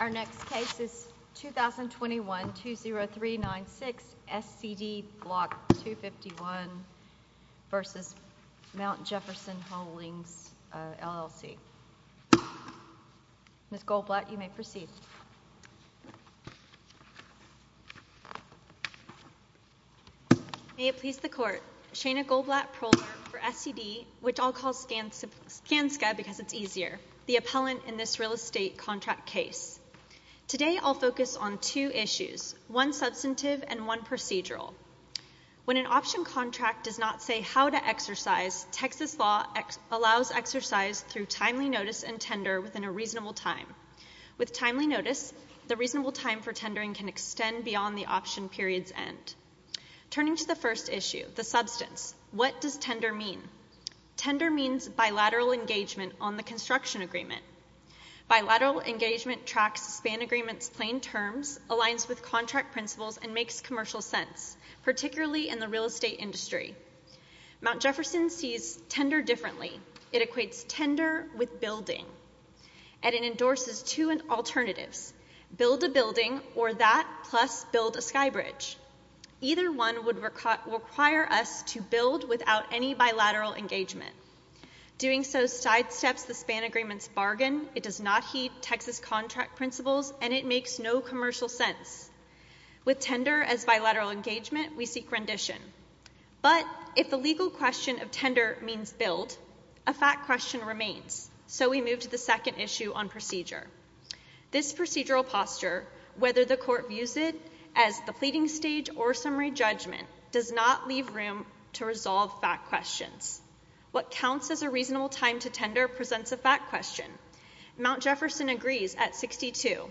Our next case is 2021-20396 SCD BLK 251 v. Mt. Jefferson Holdings, LLC. Ms. Goldblatt, you may proceed. May it please the court. Shana Goldblatt, proler for SCD, which I'll call Skanska because it's easier, the appellant in this real estate contract case. Today I'll focus on two issues, one substantive and one procedural. When an option contract does not say how to exercise, Texas law allows exercise through timely notice and tender within a reasonable time. With timely notice, the reasonable time for tendering can extend beyond the option period's end. Turning to the first issue, the substance, what does tender mean? Tender means bilateral engagement on the construction agreement. Bilateral engagement tracks span agreement's plain terms, aligns with contract principles, and makes commercial sense, particularly in the real estate industry. Mt. Jefferson sees tender differently. It equates tender with building, and it endorses two without any bilateral engagement. Doing so sidesteps the span agreement's bargain, it does not heed Texas contract principles, and it makes no commercial sense. With tender as bilateral engagement, we seek rendition. But if the legal question of tender means build, a fact question remains, so we move to the second issue on procedure. This procedural posture, whether the court views it as the pleading stage or summary judgment, does not leave room to resolve fact questions. What counts as a reasonable time to tender presents a fact question. Mt. Jefferson agrees at 62.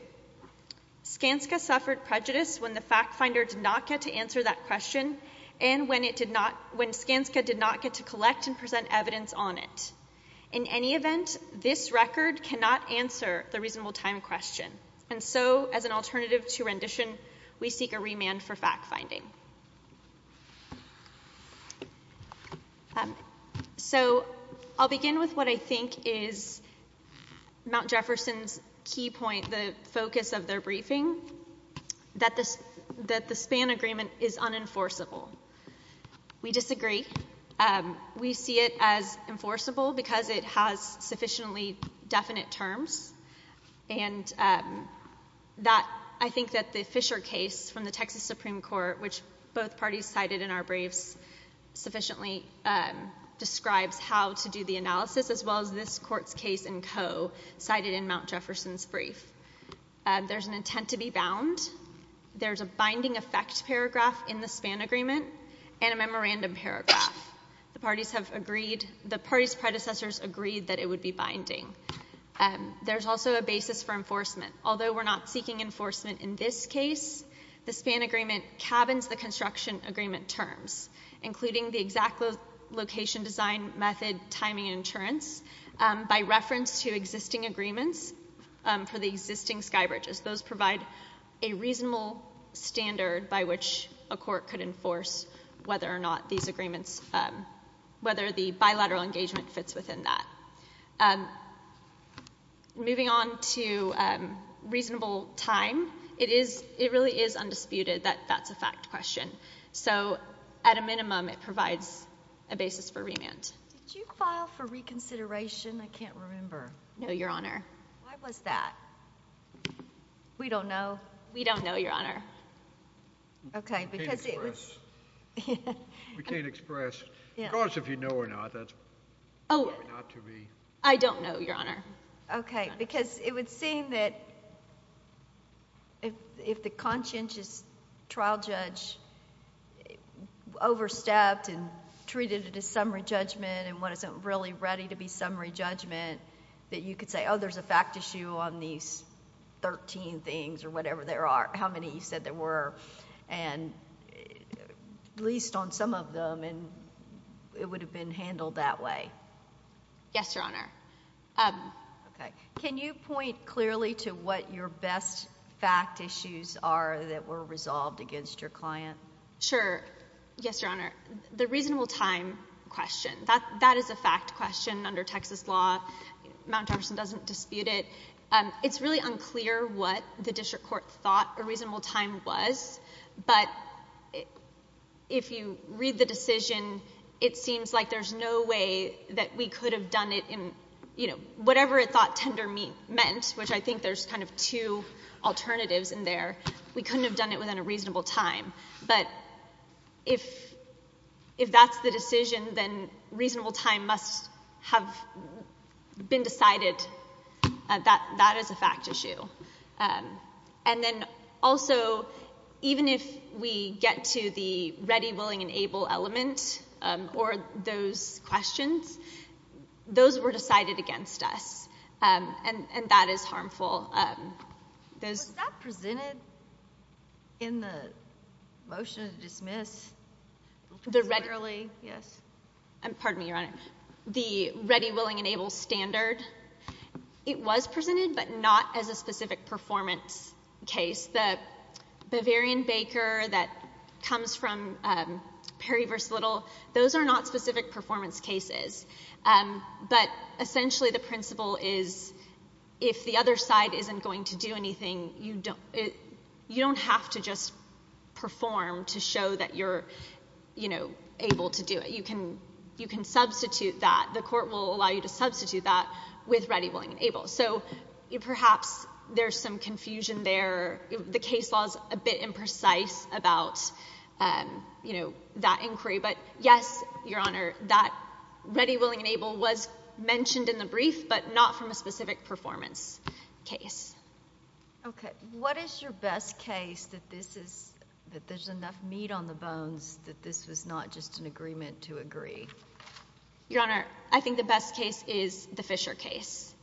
Skanska suffered prejudice when the fact finder did not get to answer that question, and when Skanska did not get to collect and present evidence on it. In any event, this record cannot answer the reasonable time question, and so as an alternative to rendition, we seek a remand for fact finding. So I'll begin with what I think is Mt. Jefferson's key point, the focus of their briefing, that the span agreement is unenforceable. We disagree. We see it as enforceable because it has sufficiently definite terms, and I think that the Fisher case from the Texas Supreme Court, which both parties cited in our briefs sufficiently describes how to do the analysis as well as this brief. There's an intent to be bound. There's a binding effect paragraph in the span agreement and a memorandum paragraph. The parties predecessors agreed that it would be binding. There's also a basis for enforcement. Although we're not seeking enforcement in this case, the span agreement cabins the construction agreement terms, including the exact location design method timing and insurance, by reference to existing agreements for the existing sky bridges. Those provide a reasonable standard by which a court could enforce whether or not these agreements, whether the bilateral engagement fits within that. Moving on to reasonable time, it really is undisputed that that's a fact question, so at a minimum, it provides a basis for remand. Did you file for reconsideration? I can't remember. No, Your Honor. Why was that? We don't know. We don't know, Your Honor. Okay, because it was— We can't express. Of course, if you know or not, that's probably not to be— I don't know, Your Honor. Okay, because it would seem that if the conscientious trial judge overstepped and treated it as summary judgment and wasn't really ready to be summary judgment, that you could say, oh, there's a fact issue on these 13 things or whatever there are, how many you said there were, and at least on some of them, and it would have been handled that way. Yes, Your Honor. Can you point clearly to what your best fact issues are that were resolved against your client? Sure. Yes, Your Honor. The reasonable time question, that is a fact question under Texas law. Mount Jefferson doesn't dispute it. It's really unclear what the district court thought a reasonable time was, but if you read the decision, it seems like there's no way that we could have done it in, you know, whatever it thought tender meant, which I think there's kind of two alternatives in there. We couldn't have done it within a reasonable time, but if that's the decision, then reasonable time must have been decided that that is a fact issue. And then also, even if we get to the ready, willing, and able element or those questions, those were decided against us, and that is harmful. Was that presented in the motion to dismiss? The ready— Literally, yes. Pardon me, Your Honor. The ready, willing, and able standard, it was presented, but not as a specific performance case. The Bavarian-Baker that comes from Perry v. Little, those are not specific performance cases, but essentially the principle is if the other side isn't going to do anything, you don't have to just perform to show that you're, you know, able to do it. You can substitute that. The court will allow you to substitute that with ready, willing, and able. So perhaps there's some confusion there. The case law is a bit imprecise about, you know, that inquiry. But yes, Your Honor, that ready, willing, and able was mentioned in the brief, but not from a specific performance case. Okay. What is your best case that this is—that there's enough meat on the bones that this is not just an agreement to agree? Your Honor, I think the best case is the Fisher case.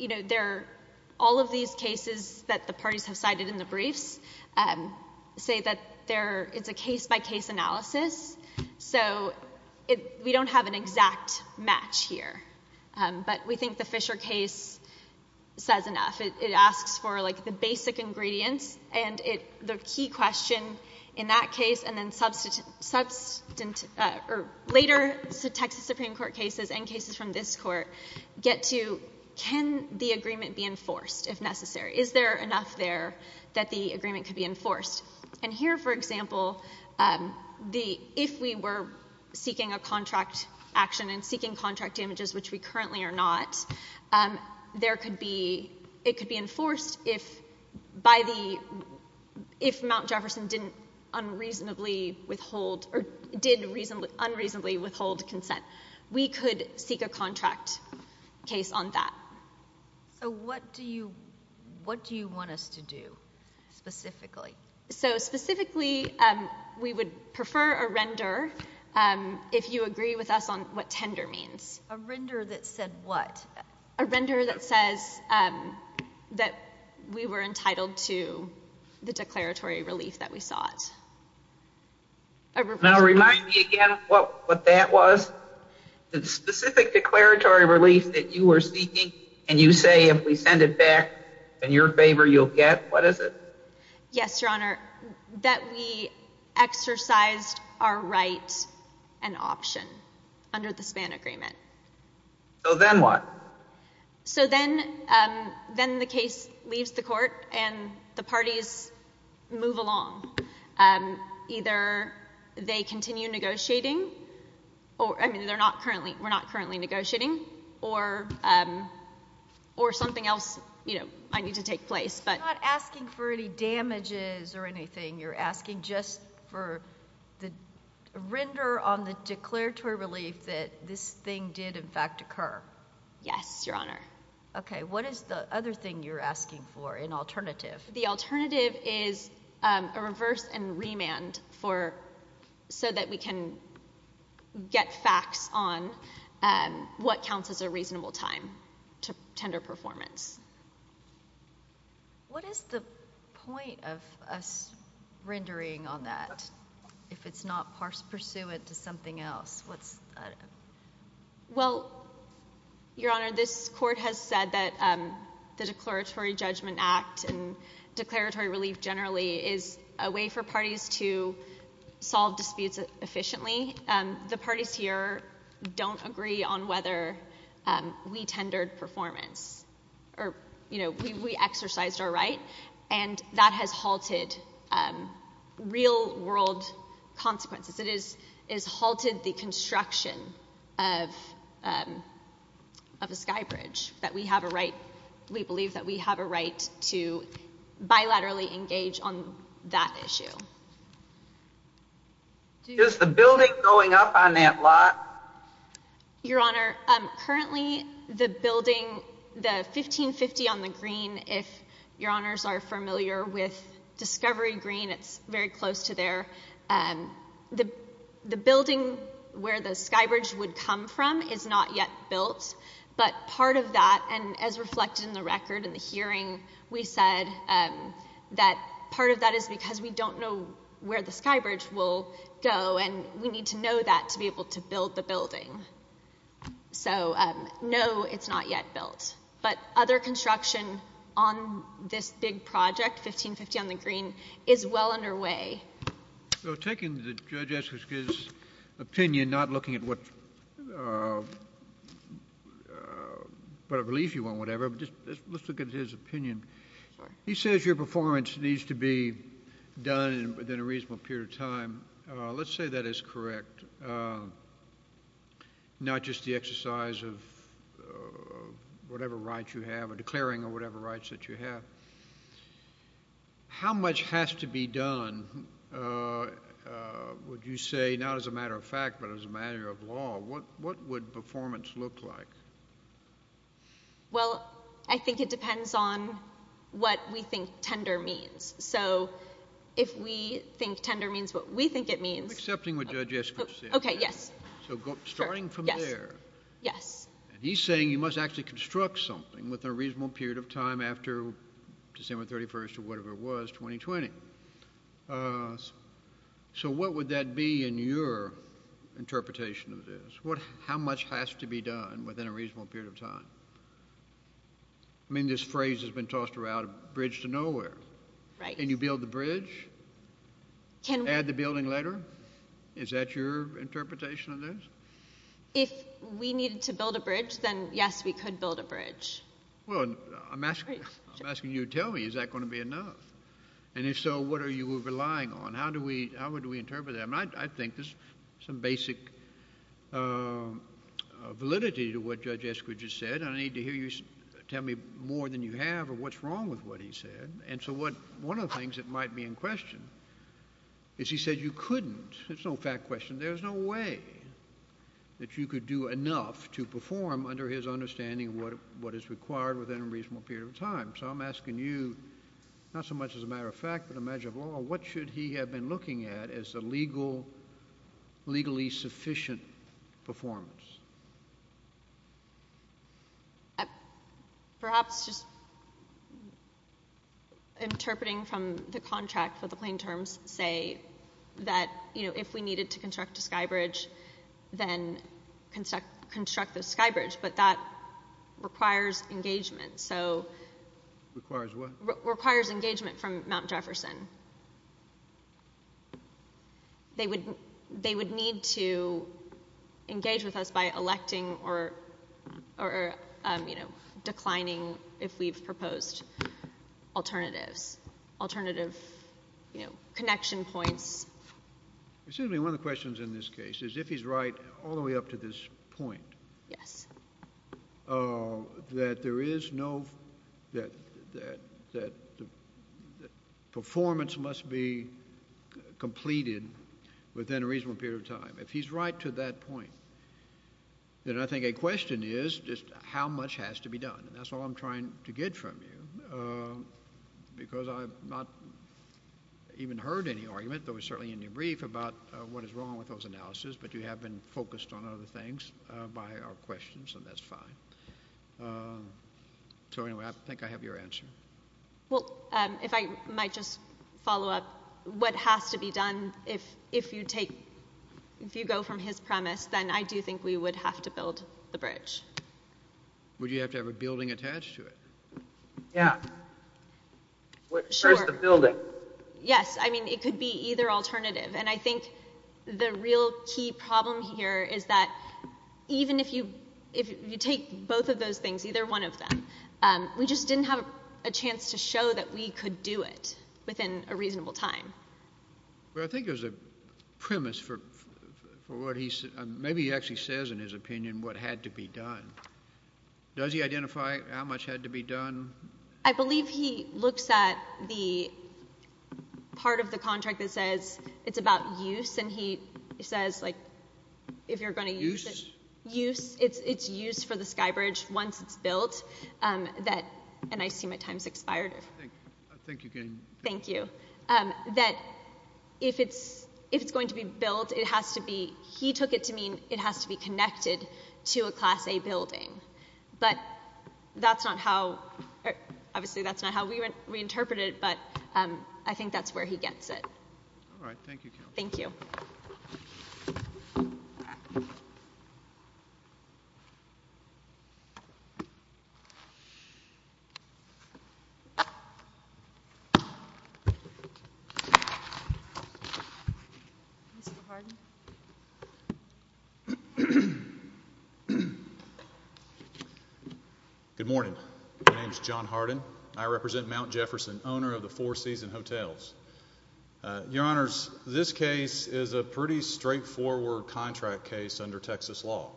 You know, there—all of these cases that the parties have cited in the briefs say that there—it's a case-by-case analysis, so we don't have an exact match here. But we think the Fisher case says enough. It asks for, like, the basic ingredients and the key question in that case, and then subsequent—or later Texas Supreme Court cases and cases from this court get to, can the agreement be enforced if necessary? Is there enough there that the agreement could be enforced? And here, for example, the—if we were seeking a contract action and seeking contract damages, which we currently are not, there could be—it could be enforced if—by the—if Mount Jefferson didn't unreasonably withhold—or did unreasonably withhold consent. We could seek a contract case on that. So what do you—what do you want us to do specifically? So specifically, we would prefer a render if you agree with us on what tender means. A render that said what? A render that says that we were entitled to the declaratory relief that we sought. Now, remind me again what that was. The specific declaratory relief that you were seeking, and you say if we send it back, then your favor you'll get, what is it? Yes, Your Honor, that we exercised our right and option under the Span Agreement. So then what? So then—then the case leaves the Court, and the parties move along. Either they continue negotiating, or—I mean, they're not currently—we're not currently negotiating—or something else, you know, might need to take place, but— You're not asking for any damages or anything. You're asking just for the render on the declaratory relief that this thing did, in fact, occur. Yes, Your Honor. Okay, what is the other thing you're asking for, an alternative? The alternative is a reverse and remand for—so that we can get facts on what counts as a reasonable time to tender performance. What is the point of us rendering on that if it's not pursuant to something else? What's— Well, Your Honor, this Court has said that the Declaratory Judgment Act and declaratory relief generally is a way for parties to solve disputes efficiently. The parties here don't agree on whether we tendered performance or, you know, we exercised our right, and that has halted real-world consequences. It has halted the construction of a skybridge that we have a right—we believe that we have a right to bilaterally engage on that issue. Is the building going up on that lot? Your Honor, currently, the building, the 1550 on the green, if Your Honors are familiar with the building where the skybridge would come from is not yet built, but part of that, and as reflected in the record in the hearing, we said that part of that is because we don't know where the skybridge will go, and we need to know that to be able to build the building. So, no, it's not yet built. But other construction on this big project, 1550 on the green, is well underway. So, taking the Judge Eskoski's opinion, not looking at what relief you want, whatever, but just let's look at his opinion. He says your performance needs to be done within a reasonable period of time. Let's say that is correct, not just the exercise of whatever rights you have, or declaring whatever rights that you have. How much has to be done, would you say, not as a matter of fact, but as a matter of law? What would performance look like? Well, I think it depends on what we think tender means. So, if we think tender means what we think it means. I'm accepting what Judge Eskoski said. Okay, yes. So, starting from there. Yes. And he's saying you must actually construct something within a reasonable period of time after December 31st, or whatever it was, 2020. So, what would that be in your interpretation of this? How much has to be done within a reasonable period of time? I mean, this phrase has been tossed around, bridge to nowhere. Right. Can you build the bridge? Can we? Add the building later? Is that your interpretation of this? If we needed to build a bridge, then yes, we could build a bridge. Well, I'm asking you to tell me, is that going to be enough? And if so, what are you relying on? How would we interpret that? I mean, I think there's some basic validity to what Judge Eskridge has said. I need to hear you tell me more than you have, or what's wrong with what he said. And so, one of the things that might be in question is he said you couldn't. It's no fact question. There's no way that you could do enough to perform under his understanding of what is required within a reasonable period of time. So, I'm asking you, not so much as a matter of fact, but a measure of law, what should he have been looking at as a legally sufficient performance? Perhaps just interpreting from the contract for the plain terms, say that, you know, if we needed to construct a skybridge, then construct the skybridge. But that requires engagement. So, requires what? Requires engagement from Mount Jefferson. They would need to engage with us by electing or, you know, declining, if we've proposed alternatives, alternative, you know, connection points. Assuming one of the questions in this case is if he's right all the way up to this point. Yes. That there is no, that performance must be completed within a reasonable period of time. If he's right to that point, then I think a question is just how much has to be done. And that's all I'm trying to get from you because I've not even heard any argument, though it was certainly in your brief, about what is wrong with those analyses. But you have been focused on other things by our questions, and that's fine. So, anyway, I think I have your answer. Well, if I might just follow up. What has to be done if you take, if you go from his premise, then I do think we would have to build the bridge. Would you have to have a building attached to it? Yeah. Where's the building? Yes, I mean, it could be either alternative. And I think the real key problem here is that even if you take both of those things, either one of them, we just didn't have a chance to show that we could do it within a reasonable time. Well, I think there's a premise for what he, maybe he actually says in his opinion what had to be done. Does he identify how much had to be done? I believe he looks at the part of the contract that says it's about use, and he says, like, if you're going to use it. Use? Use. It's used for the Skybridge once it's built. That, and I see my time's expired. I think you can. Thank you. That if it's going to be built, it has to be, he took it to mean it has to be connected to a Class A building. But that's not how, obviously, that's not how we interpret it. But I think that's where he gets it. All right. Thank you. Thank you. Good morning. My name is John Hardin. I represent Mount Jefferson, owner of the Four Seas and Hotels. Your Honors, this case is a pretty straightforward contract case under Texas law.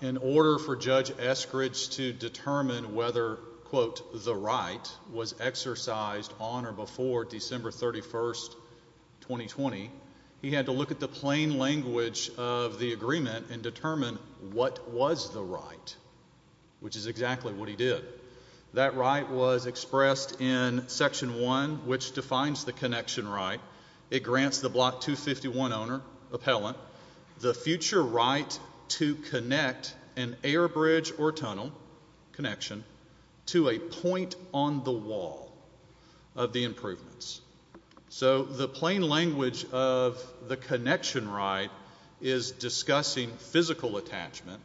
In order for Judge Eskridge to determine whether, quote, the right was exercised on or before December 31st, 2020, he had to look at the plain language of the agreement and determine what was the right, which is exactly what he did. That right was expressed in Section 1, which defines the connection right. It grants the Block 251 owner, appellant, the future right to connect an air bridge or tunnel connection to a point on the wall of the improvements. So the plain language of the connection right is discussing physical attachment,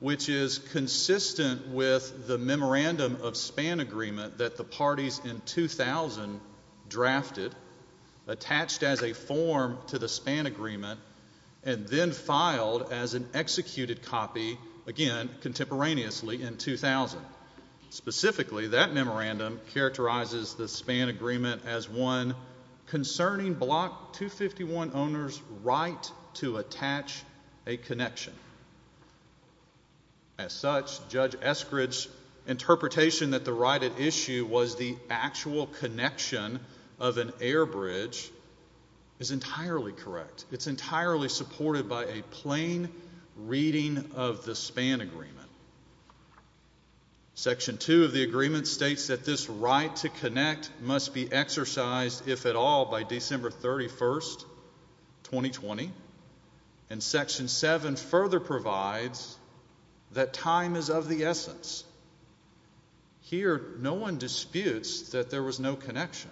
which is consistent with the memorandum of span agreement that the parties in 2000 drafted, attached as a form to the span agreement, and then filed as an executed copy, again, contemporaneously in 2000. Specifically, that memorandum characterizes the span agreement as one concerning Block 251 owner's right to attach a connection. As such, Judge Eskridge's interpretation that the right at issue was the actual connection of an air bridge is entirely correct. It's entirely supported by a plain reading of the span agreement. Section 2 of the agreement states that this right to connect must be exercised, if at all, by December 31, 2020. And Section 7 further provides that time is of the essence. Here, no one disputes that there was no connection.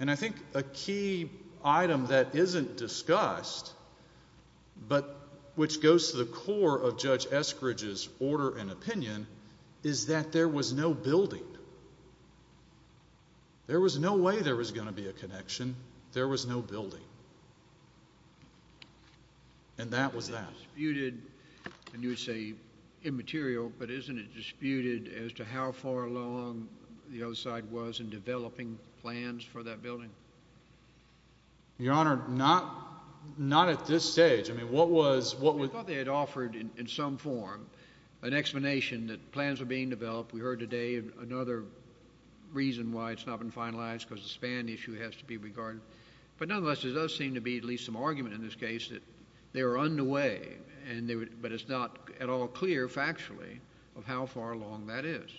And I think a key item that isn't discussed, but which goes to the core of Judge Eskridge's order and opinion, is that there was no building. There was no way there was going to be a connection. There was no building. And that was that. You would say immaterial, but isn't it disputed as to how far along the other side was in developing plans for that building? Your Honor, not at this stage. I mean, what was... I thought they had offered, in some form, an explanation that plans were being developed. We heard today another reason why it's not been finalized, because the span issue has to be regarded. But nonetheless, there does seem to be at least some argument in this case that they were underway, but it's not at all clear factually of how far along that is.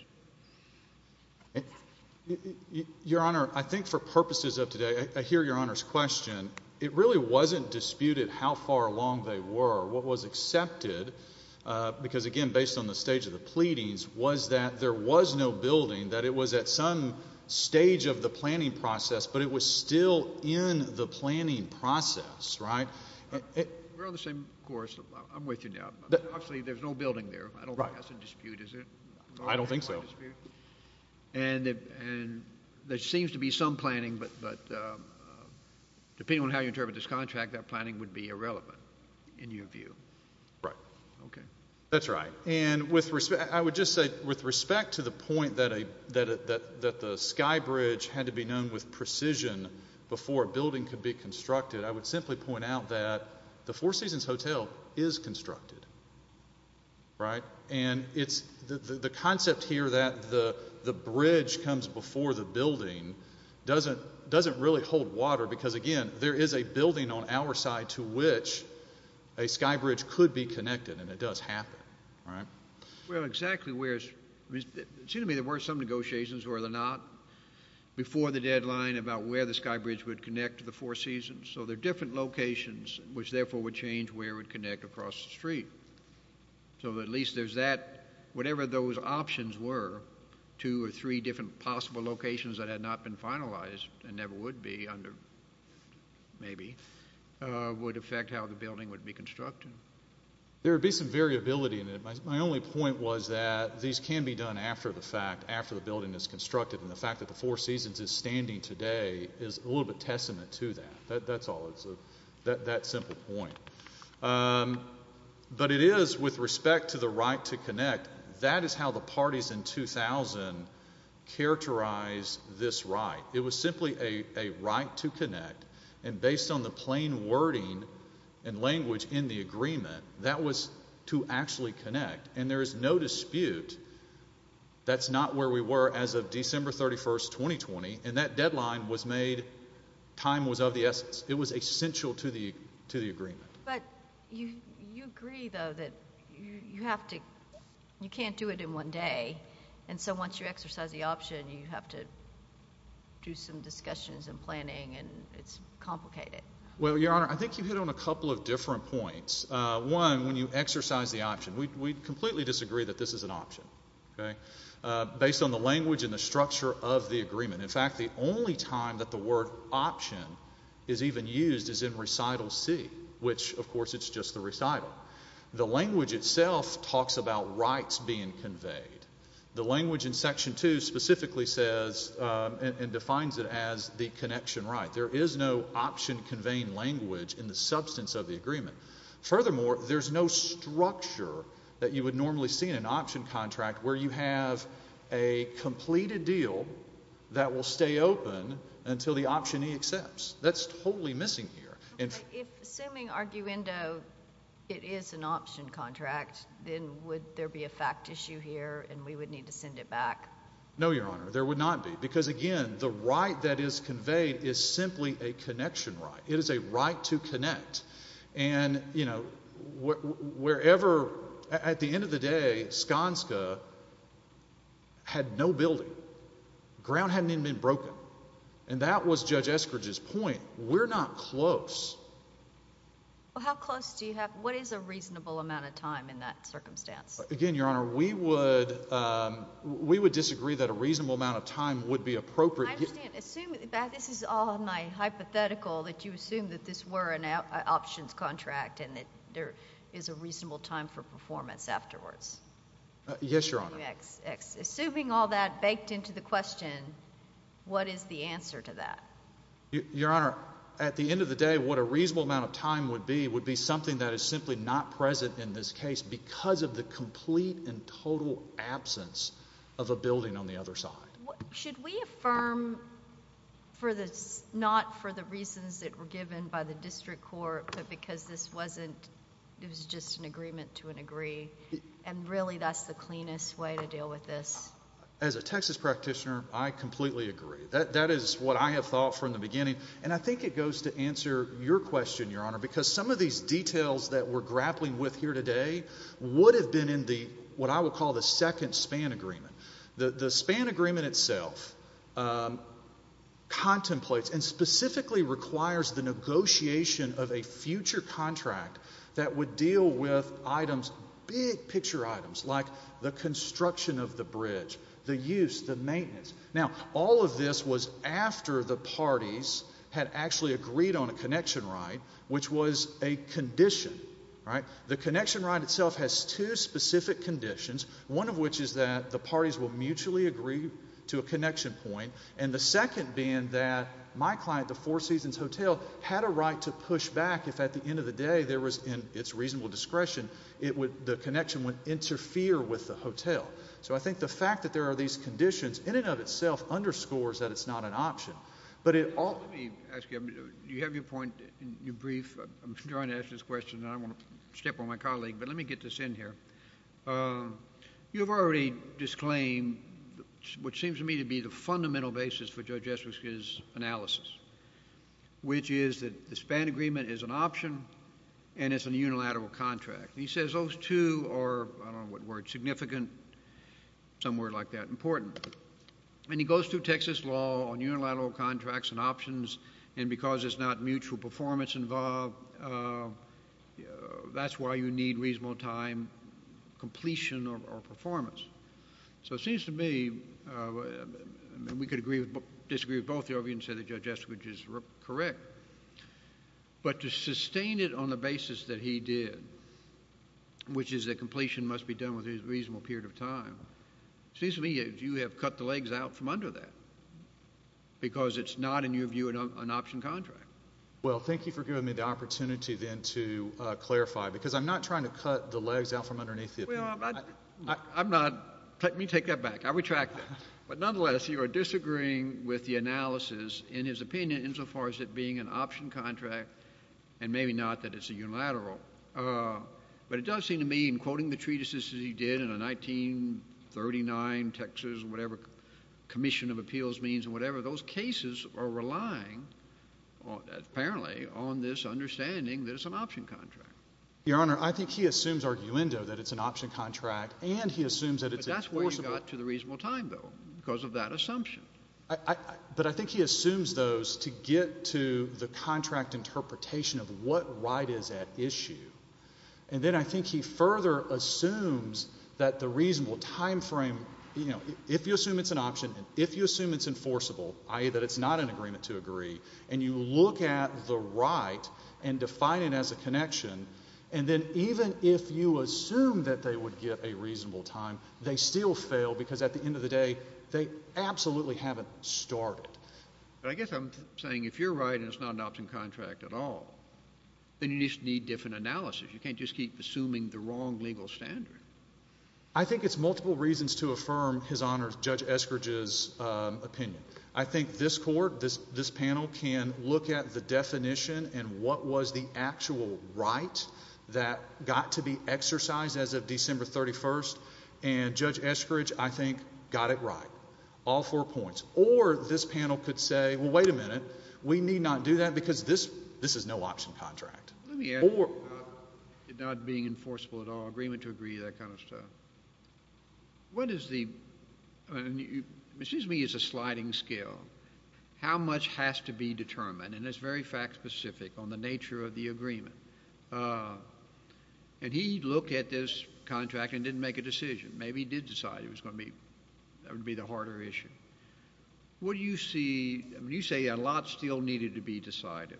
Your Honor, I think for purposes of today, I hear Your Honor's question. It really wasn't disputed how far along they were. What was accepted, because again, based on the stage of the pleadings, was that there was no building, that it was at some stage of the planning process, but it was still in the planning process, right? We're on the same course. I'm with you now. Obviously, there's no building there. I don't think that's a dispute, is it? I don't think so. And there seems to be some planning, but depending on how you interpret this contract, that planning would be irrelevant, in your view. Right. Okay. That's right. And I would just say, with respect to the point that the Sky Bridge had to be known with precision before a building could be constructed, I would simply point out that the Four Seasons Hotel is constructed, right? And the concept here that the bridge comes before the building doesn't really hold water, because again, there is a building on our side to which a Sky Bridge could be connected, and it does happen, right? Well, exactly where it's—it seems to me there were some negotiations, were there not, before the deadline about where the Sky Bridge would connect to the Four Seasons. So, there are different locations, which therefore would change where it would connect across the street. So, at least there's that—whatever those options were, two or three different possible locations that had not been finalized and never would be under—maybe—would affect how the building would be constructed. There would be some variability in it. My only point was that these can be done after the fact, after the building is constructed, and the fact that the Four Seasons is standing today is a little bit testament to that. That's all. It's that simple point. But it is, with respect to the right to connect, that is how the parties in 2000 characterized this right. It was simply a right to connect, and based on the plain wording and language in the agreement, that was to actually connect, and there is no dispute that's not where we were as of December 31, 2020, and that deadline was made—time was of the essence. It was essential to the agreement. But you agree, though, that you have to—you can't do it in one day, and so once you exercise the option, you have to do some discussions and planning, and it's complicated. Well, Your Honor, I think you hit on a couple of different points. One, when you exercise the option, we completely disagree that this is an option, okay, based on the language and the structure of the agreement. In fact, the only time that the word option is even used is in Recital C, which, of course, it's just the recital. The language itself talks about rights being conveyed. The language in Section 2 specifically says and defines it as the connection right. There is no option-conveying language in the substance of the agreement. Furthermore, there's no structure that you would normally see in an option contract where you have a completed deal that will stay open until the optionee accepts. That's totally missing here. If, assuming arguendo, it is an option contract, then would there be a fact issue here and we would need to send it back? No, Your Honor, there would not be because, again, the right that is conveyed is simply a connection right. It is a right to connect, and, you know, wherever—at the end of the day, Skanska had no building. Ground hadn't even been broken, and that was Judge Eskridge's point. We're not close. Well, how close do you have—what is a reasonable amount of time in that circumstance? Again, Your Honor, we would disagree that a reasonable amount of time would be appropriate. I understand. Assume—this is all my hypothetical—that you assume that this were an options contract and that there is a reasonable time for performance afterwards. Yes, Your Honor. Assuming all that baked into the question, what is the answer to that? Your Honor, at the end of the day, what a reasonable amount of time would be would be something that is simply not present in this case because of the complete and total absence of a building on the other side. Should we affirm not for the reasons that were given by the District Court but because this wasn't—it was just an agreement to an agree, and really that's the cleanest way to deal with this? As a Texas practitioner, I completely agree. That is what I have thought from the beginning, and I think it goes to answer your question, Your Honor, because some of these details that we're grappling with here today would have been in what I would call the second span agreement. The span agreement itself contemplates and specifically requires the negotiation of a future contract that would deal with items, big picture items, like the construction of the bridge, the use, the maintenance. Now, all of this was after the parties had actually agreed on a connection right, which was a condition, right? The connection right itself has two specific conditions, one of which is that the parties will mutually agree to a connection point, and the second being that my client, the Four Seasons Hotel, had a right to push back if at the end of the day there was, in its reasonable discretion, the connection would interfere with the hotel. So I think the fact that there are these conditions in and of itself underscores that it's not an option, but it also— Let me ask you, do you have your point in your brief? I'm trying to ask this question, and I want to step on my colleague, but let me get this in here. You've already disclaimed what seems to me to be the fundamental basis for Judge Estrich's analysis, which is that the span agreement is an option and it's a unilateral contract. He says those two are, I don't know what word, significant, some word like that, important. And he goes through Texas law on unilateral contracts and options, and because there's not mutual performance involved, that's why you need reasonable time, completion, or performance. So it seems to me, and we could disagree with both of you and say that Judge Estrich is correct, but to sustain it on the basis that he did, which is that completion must be done with a reasonable period of time, it seems to me that you have cut the legs out from under that, because it's not, in your view, an option contract. Well, thank you for giving me the opportunity then to clarify, because I'm not trying to cut the legs out from underneath the— Well, I'm not. Let me take that back. I retract that. But nonetheless, you are disagreeing with the analysis, in his opinion, insofar as it being an option contract, and maybe not that it's a unilateral. But it does seem to me, in quoting the treatises that he did in 1939, Texas, whatever commission of appeals means, whatever, those cases are relying, apparently, on this understanding that it's an option contract. Your Honor, I think he assumes arguendo that it's an option contract, and he assumes that it's— But that's where you got to the reasonable time, though, because of that assumption. But I think he assumes those to get to the contract interpretation of what right is at issue. And then I think he further assumes that the reasonable time frame, you know, if you assume it's an option, if you assume it's enforceable, i.e., that it's not an agreement to agree, and you look at the right and define it as a connection, and then even if you assume that they would get a reasonable time, they still fail, because at the end of the day, they absolutely haven't started. But I guess I'm saying if you're right and it's not an option contract at all, then you just need different analysis. You can't just keep assuming the wrong legal standard. I think it's multiple reasons to affirm, His Honor, Judge Eskridge's opinion. I think this Court, this panel, can look at the definition and what was the actual right that got to be exercised as of December 31st, and Judge Eskridge, I think, got it right, all four points. Or this panel could say, well, wait a minute, we need not do that because this is no option contract. Let me add, not being enforceable at all, agreement to agree, that kind of stuff. Excuse me, it's a sliding scale. How much has to be determined, and it's very fact-specific on the nature of the agreement. And he looked at this contract and didn't make a decision. Maybe he did decide it was going to be, that would be the harder issue. What do you see, I mean, you say a lot still needed to be decided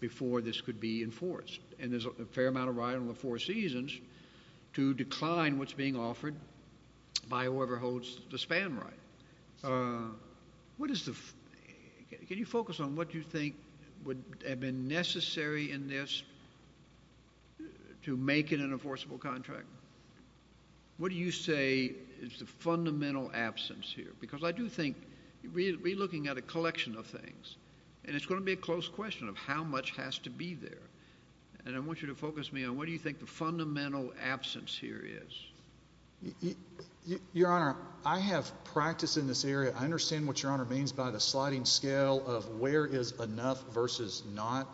before this could be enforced, and there's a fair amount of right on the four seasons to decline what's being offered by whoever holds the span right. What is the, can you focus on what you think would have been necessary in this to make it an enforceable contract? What do you say is the fundamental absence here? Because I do think, we're looking at a collection of things, and it's going to be a close question of how much has to be there. And I want you to focus me on what do you think the fundamental absence here is? Your Honor, I have practice in this area. I understand what Your Honor means by the sliding scale of where is enough versus not.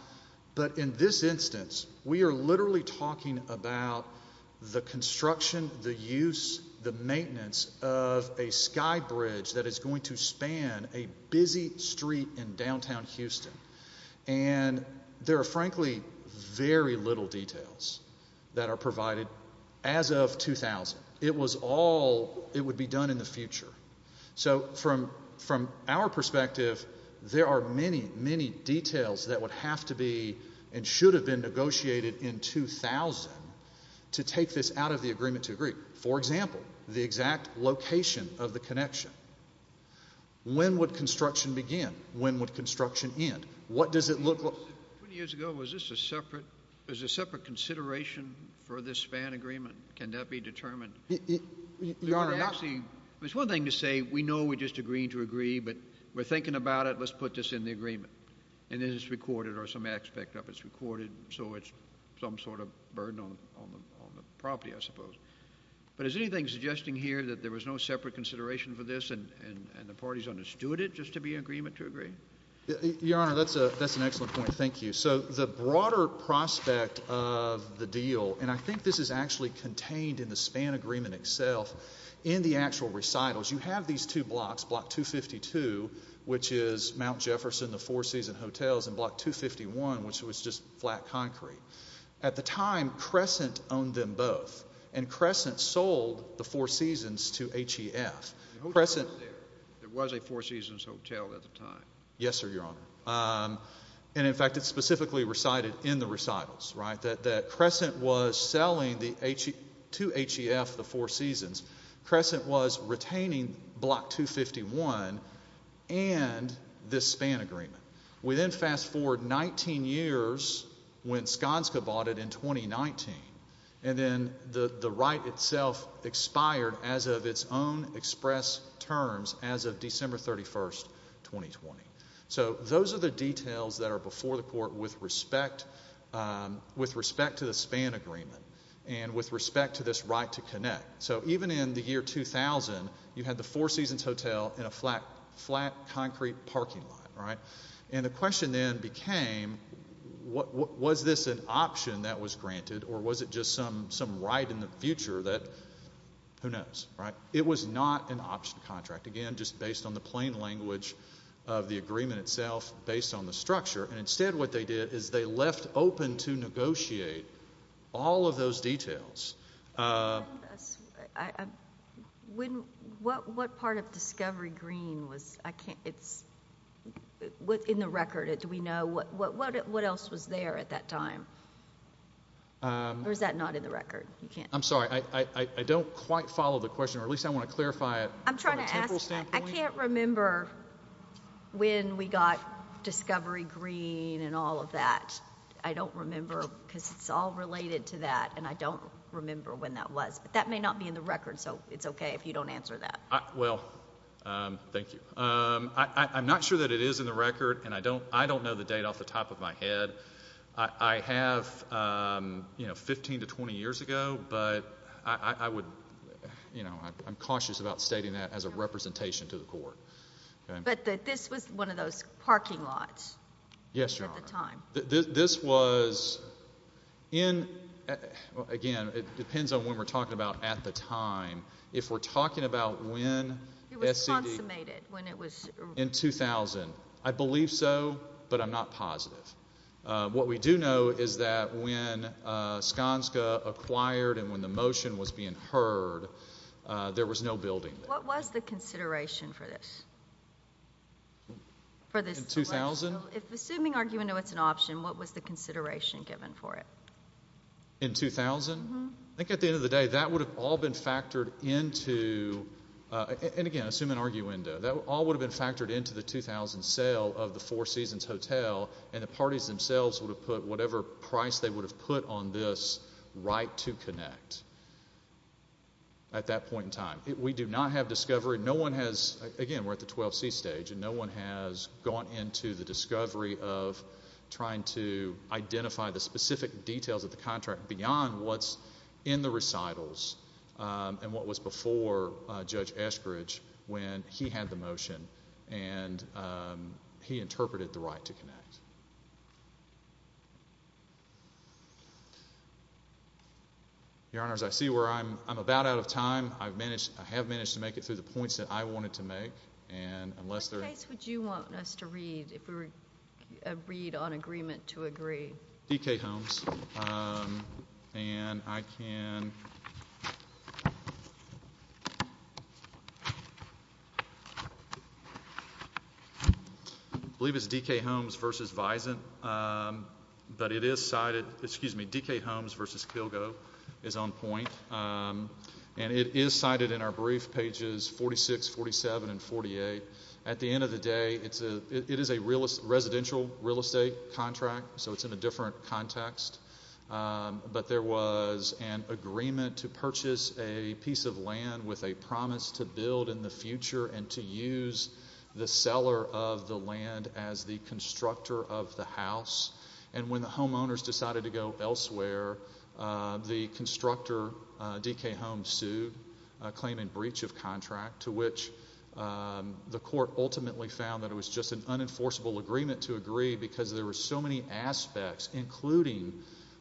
But in this instance, we are literally talking about the construction, the use, the maintenance of a sky bridge that is going to span a busy street in downtown Houston. And there are frankly very little details that are provided as of 2000. It was all, it would be done in the future. So from our perspective, there are many, many details that would have to be and should have been negotiated in 2000 to take this out of the agreement to agree. For example, the exact location of the connection. When would construction begin? When would construction end? What does it look like? 20 years ago, was this a separate, was there a separate consideration for this span agreement? Can that be determined? Your Honor, not. It's one thing to say, we know we're just agreeing to agree, but we're thinking about it, let's put this in the agreement. And then it's recorded or some aspect of it's recorded. So it's some sort of burden on the property, I suppose. But is anything suggesting here that there was no separate consideration for this and the parties understood it just to be an agreement to agree? Your Honor, that's an excellent point. Thank you. So the broader prospect of the deal, and I think this is actually contained in the span agreement itself, in the actual recitals, you have these two blocks, Block 252, which is Mount Jefferson, the Four Seasons Hotels, and Block 251, which was just flat concrete. At the time, Crescent owned them both. And Crescent sold the Four Seasons to HEF. There was a Four Seasons Hotel at the time. Yes, sir, Your Honor. And in fact, it's specifically recited in the recitals, right? That Crescent was selling to HEF the Four Seasons. Crescent was retaining Block 251 and this span agreement. We then fast forward 19 years when Skanska bought it in 2019. And then the right itself expired as of its own express terms as of December 31, 2020. So those are the details that are before the court with respect to the span agreement and with respect to this right to connect. So even in the year 2000, you had the Four Seasons Hotel in a flat concrete parking lot, right? And the question then became, was this an option that was granted or was it just some right in the future that, who knows, right? It was not an option contract. Again, just based on the plain language of the agreement itself based on the structure. And instead, what they did is they left open to negotiate all of those details. Can you tell us, what part of Discovery Green was, I can't, it's, in the record, do we know, what else was there at that time? Or is that not in the record? You can't. I'm sorry, I don't quite follow the question or at least I want to clarify it. I'm trying to ask, I can't remember when we got Discovery Green and all of that. I don't remember because it's all related to that and I don't remember when that was. But that may not be in the record, so it's okay if you don't answer that. Well, thank you. I'm not sure that it is in the record and I don't know the date off the top of my head. I have, you know, 15 to 20 years ago, but I would, you know, I'm cautious about stating that as a representation to the court. But this was one of those parking lots? Yes, Your Honor. At the time. This was in, well, again, it depends on when we're talking about at the time. If we're talking about when SCD- It was consummated when it was- In 2000. I believe so, but I'm not positive. What we do know is that when Skanska acquired and when the motion was being heard, there was no building there. What was the consideration for this? For this- In 2000? If assuming arguendo it's an option, what was the consideration given for it? In 2000? Mm-hmm. I think at the end of the day, that would have all been factored into, and again, assuming arguendo, that all would have been factored into the 2000 sale of the Four Seasons Hotel and the parties themselves would have put whatever price they would have put on this right to connect at that point in time. We do not have discovery. No one has, again, we're at the 12C stage and no one has gone into the discovery of trying to identify the specific details of the contract beyond what's in the recitals and what was before Judge Eskridge when he had the motion and he interpreted the right to connect. Your Honors, I see where I'm about out of time. I have managed to make it through the points that I wanted to make, and unless there's... What case would you want us to read if we were to read on agreement to agree? D.K. Holmes and I can... I believe it's D.K. Holmes versus Vizant, but it is cited, excuse me, D.K. Holmes versus Kilgo is on point and it is cited in our brief, pages 46, 47, and 48. At the end of the day, it is a residential real estate contract, so it's in a different context, but there was an agreement to purchase a piece of land with a promise to build in the future and to use the seller of the land as the constructor of the house, and when the homeowners decided to go elsewhere, the constructor, D.K. Holmes, sued claiming breach of contract to which the court ultimately found that it was just an unenforceable agreement to agree because there were so many aspects, including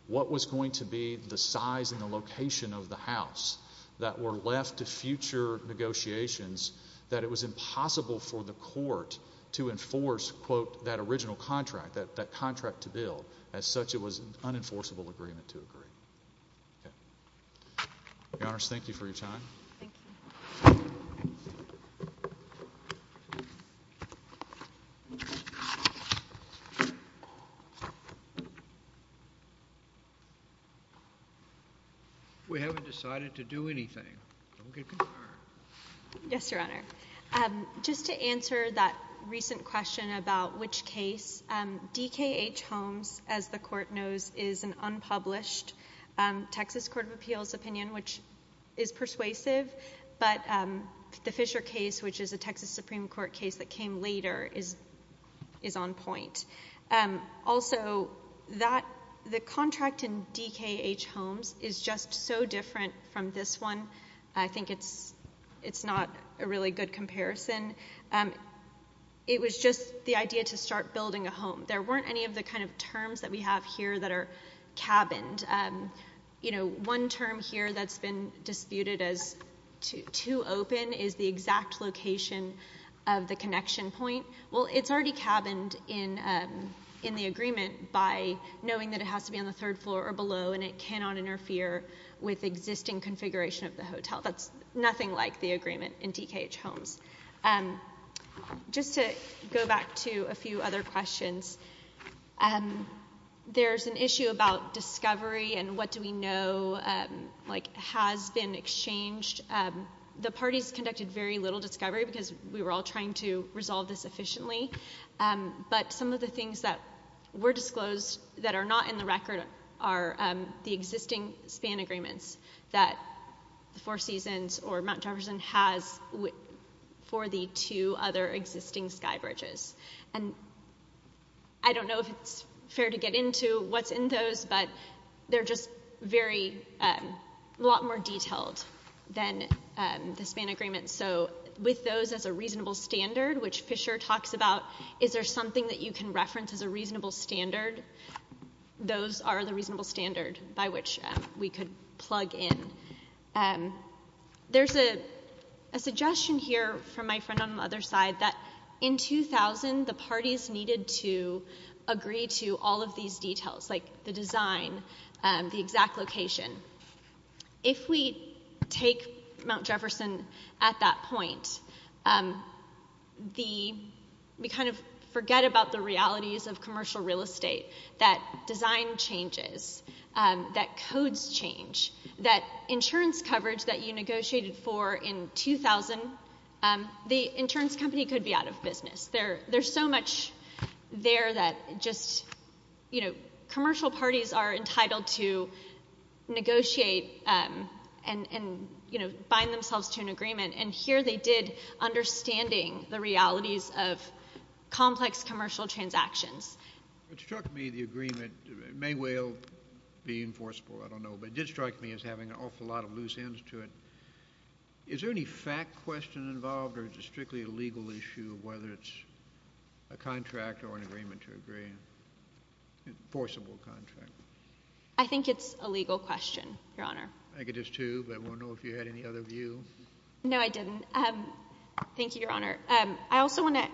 what was going to be the size and the location of the house that were left to future negotiations that it was impossible for the court to enforce, quote, that original contract, that contract to build. As such, it was an unenforceable agreement to agree. Okay. Your Honors, thank you for your time. Thank you. We haven't decided to do anything. Yes, Your Honor. Just to answer that recent question about which case, D.K. H. Holmes, as the court knows, is an unpublished Texas Court of Appeals opinion, which is persuasive, but the Fisher case, which is a Texas Supreme Court case that came later, is on point. Also, the contract in D.K. H. Holmes is just so different from this one. I think it's not a really good comparison. It was just the idea to start building a home. There weren't any of the kind of terms that we have here that are cabined. One term here that's been disputed as too open is the exact location of the connection point. Well, it's already cabined in the agreement by knowing that it has to be on the third floor or below, and it cannot interfere with existing configuration of the hotel. That's nothing like the agreement in D.K. H. Holmes. Just to go back to a few other questions, there's an issue about discovery, and what do we know has been exchanged. The parties conducted very little discovery because we were all trying to resolve this efficiently, but some of the things that were disclosed that are not in the record are the existing span agreements that the Four Seasons or Mount Jefferson has for the two other existing sky bridges. And I don't know if it's fair to get into what's in those, but they're just a lot more detailed than the span agreements. So with those as a reasonable standard, which Fisher talks about, is there something that you can reference as a reasonable standard? Those are the reasonable standard by which we could plug in. There's a suggestion here from my friend on the other side that in 2000, the parties needed to agree to all of these details, like the design, the exact location. If we take Mount Jefferson at that point, we kind of forget about the realities of commercial real estate, that design changes, that codes change, that insurance coverage that you negotiated for in 2000, the insurance company could be out of business. There's so much there that just, you know, commercial parties are entitled to negotiate and, you know, bind themselves to an agreement. And here they did, understanding the realities of complex commercial transactions. It struck me the agreement may well be enforceable, I don't know, but it did strike me as having an awful lot of loose ends to it. Is there any fact question involved or is it strictly a legal issue of whether it's a contract or an agreement to agree? Enforceable contract. I think it's a legal question, Your Honor. I think it is too, but I want to know if you had any other view. No, I didn't. Thank you, Your Honor. I also want to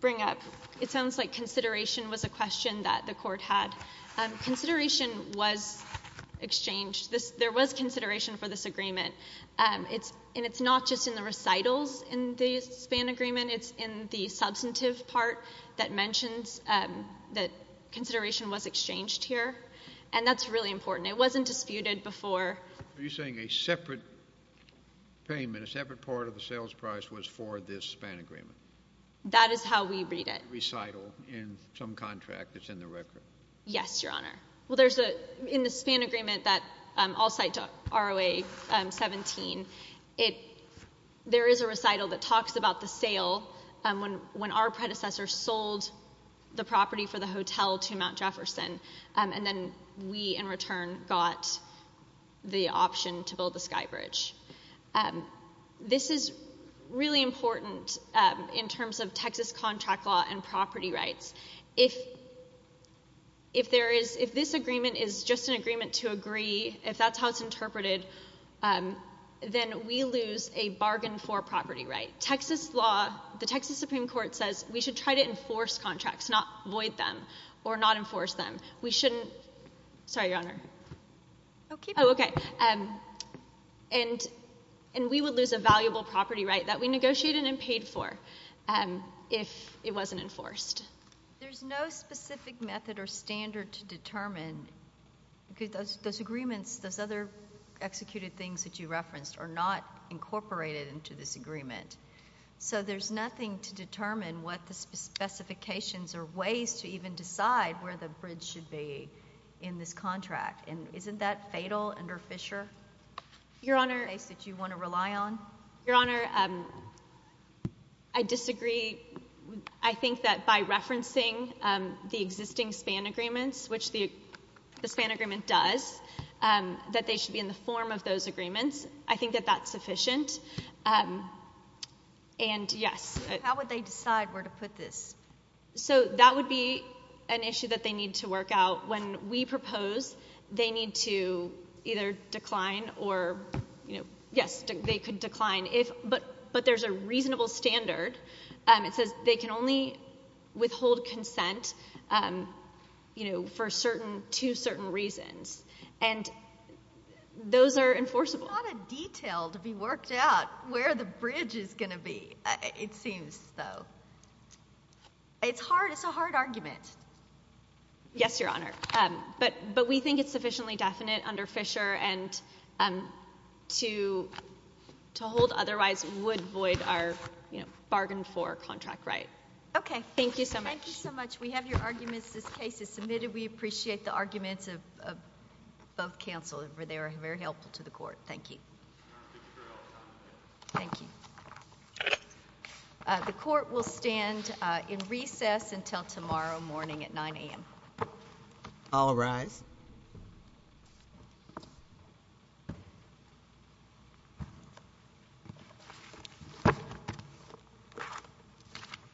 bring up, it sounds like consideration was a question that the court had. Consideration was exchanged. There was consideration for this agreement. It's, and it's not just in the recitals in the SPAN agreement, it's in the substantive part that mentions that consideration was exchanged here. And that's really important. It wasn't disputed before. Are you saying a separate payment, a separate part of the sales price was for this SPAN agreement? That is how we read it. Recital in some contract that's in the record. Yes, Your Honor. Well, there's a, in the SPAN agreement that I'll cite to ROA 17. It, there is a recital that talks about the sale when our predecessor sold the property for the hotel to Mount Jefferson. And then we, in return, got the option to build the Skybridge. This is really important in terms of Texas contract law and property rights. If, if there is, if this agreement is just an agreement to agree, if that's how it's interpreted, then we lose a bargain for property right. Texas law, the Texas Supreme Court says we should try to enforce contracts, not void them or not enforce them. We shouldn't, sorry, Your Honor. Okay. Oh, okay. And, and we would lose a valuable property right that we negotiated and paid for if it wasn't enforced. There's no specific method or standard to determine because those, those agreements, those other executed things that you referenced are not incorporated into this agreement. So there's nothing to determine what the specifications or ways to even decide where the bridge should be in this contract. And isn't that fatal under Fisher? Your Honor. That you want to rely on? Your Honor, I disagree. I think that by referencing the existing span agreements, which the, the span agreement does, that they should be in the form of those agreements. I think that that's sufficient. And yes. How would they decide where to put this? So that would be an issue that they need to work out when we propose they need to either decline or, you know, yes, they could decline if, but, but there's a reasonable standard it says they can only withhold consent, you know, for certain, to certain reasons. And those are enforceable. There's not a detail to be worked out where the bridge is going to be, it seems though. It's hard. It's a hard argument. Yes, Your Honor. But, but we think it's sufficiently definite under Fisher and to, to hold otherwise would void our, you know, bargain for contract right. Okay. Thank you so much. Thank you so much. We have your arguments. This case is submitted. We appreciate the arguments of, of both counsel over there. Very helpful to the court. Thank you. Thank you. The court will stand in recess until tomorrow morning at 9 a.m. All rise.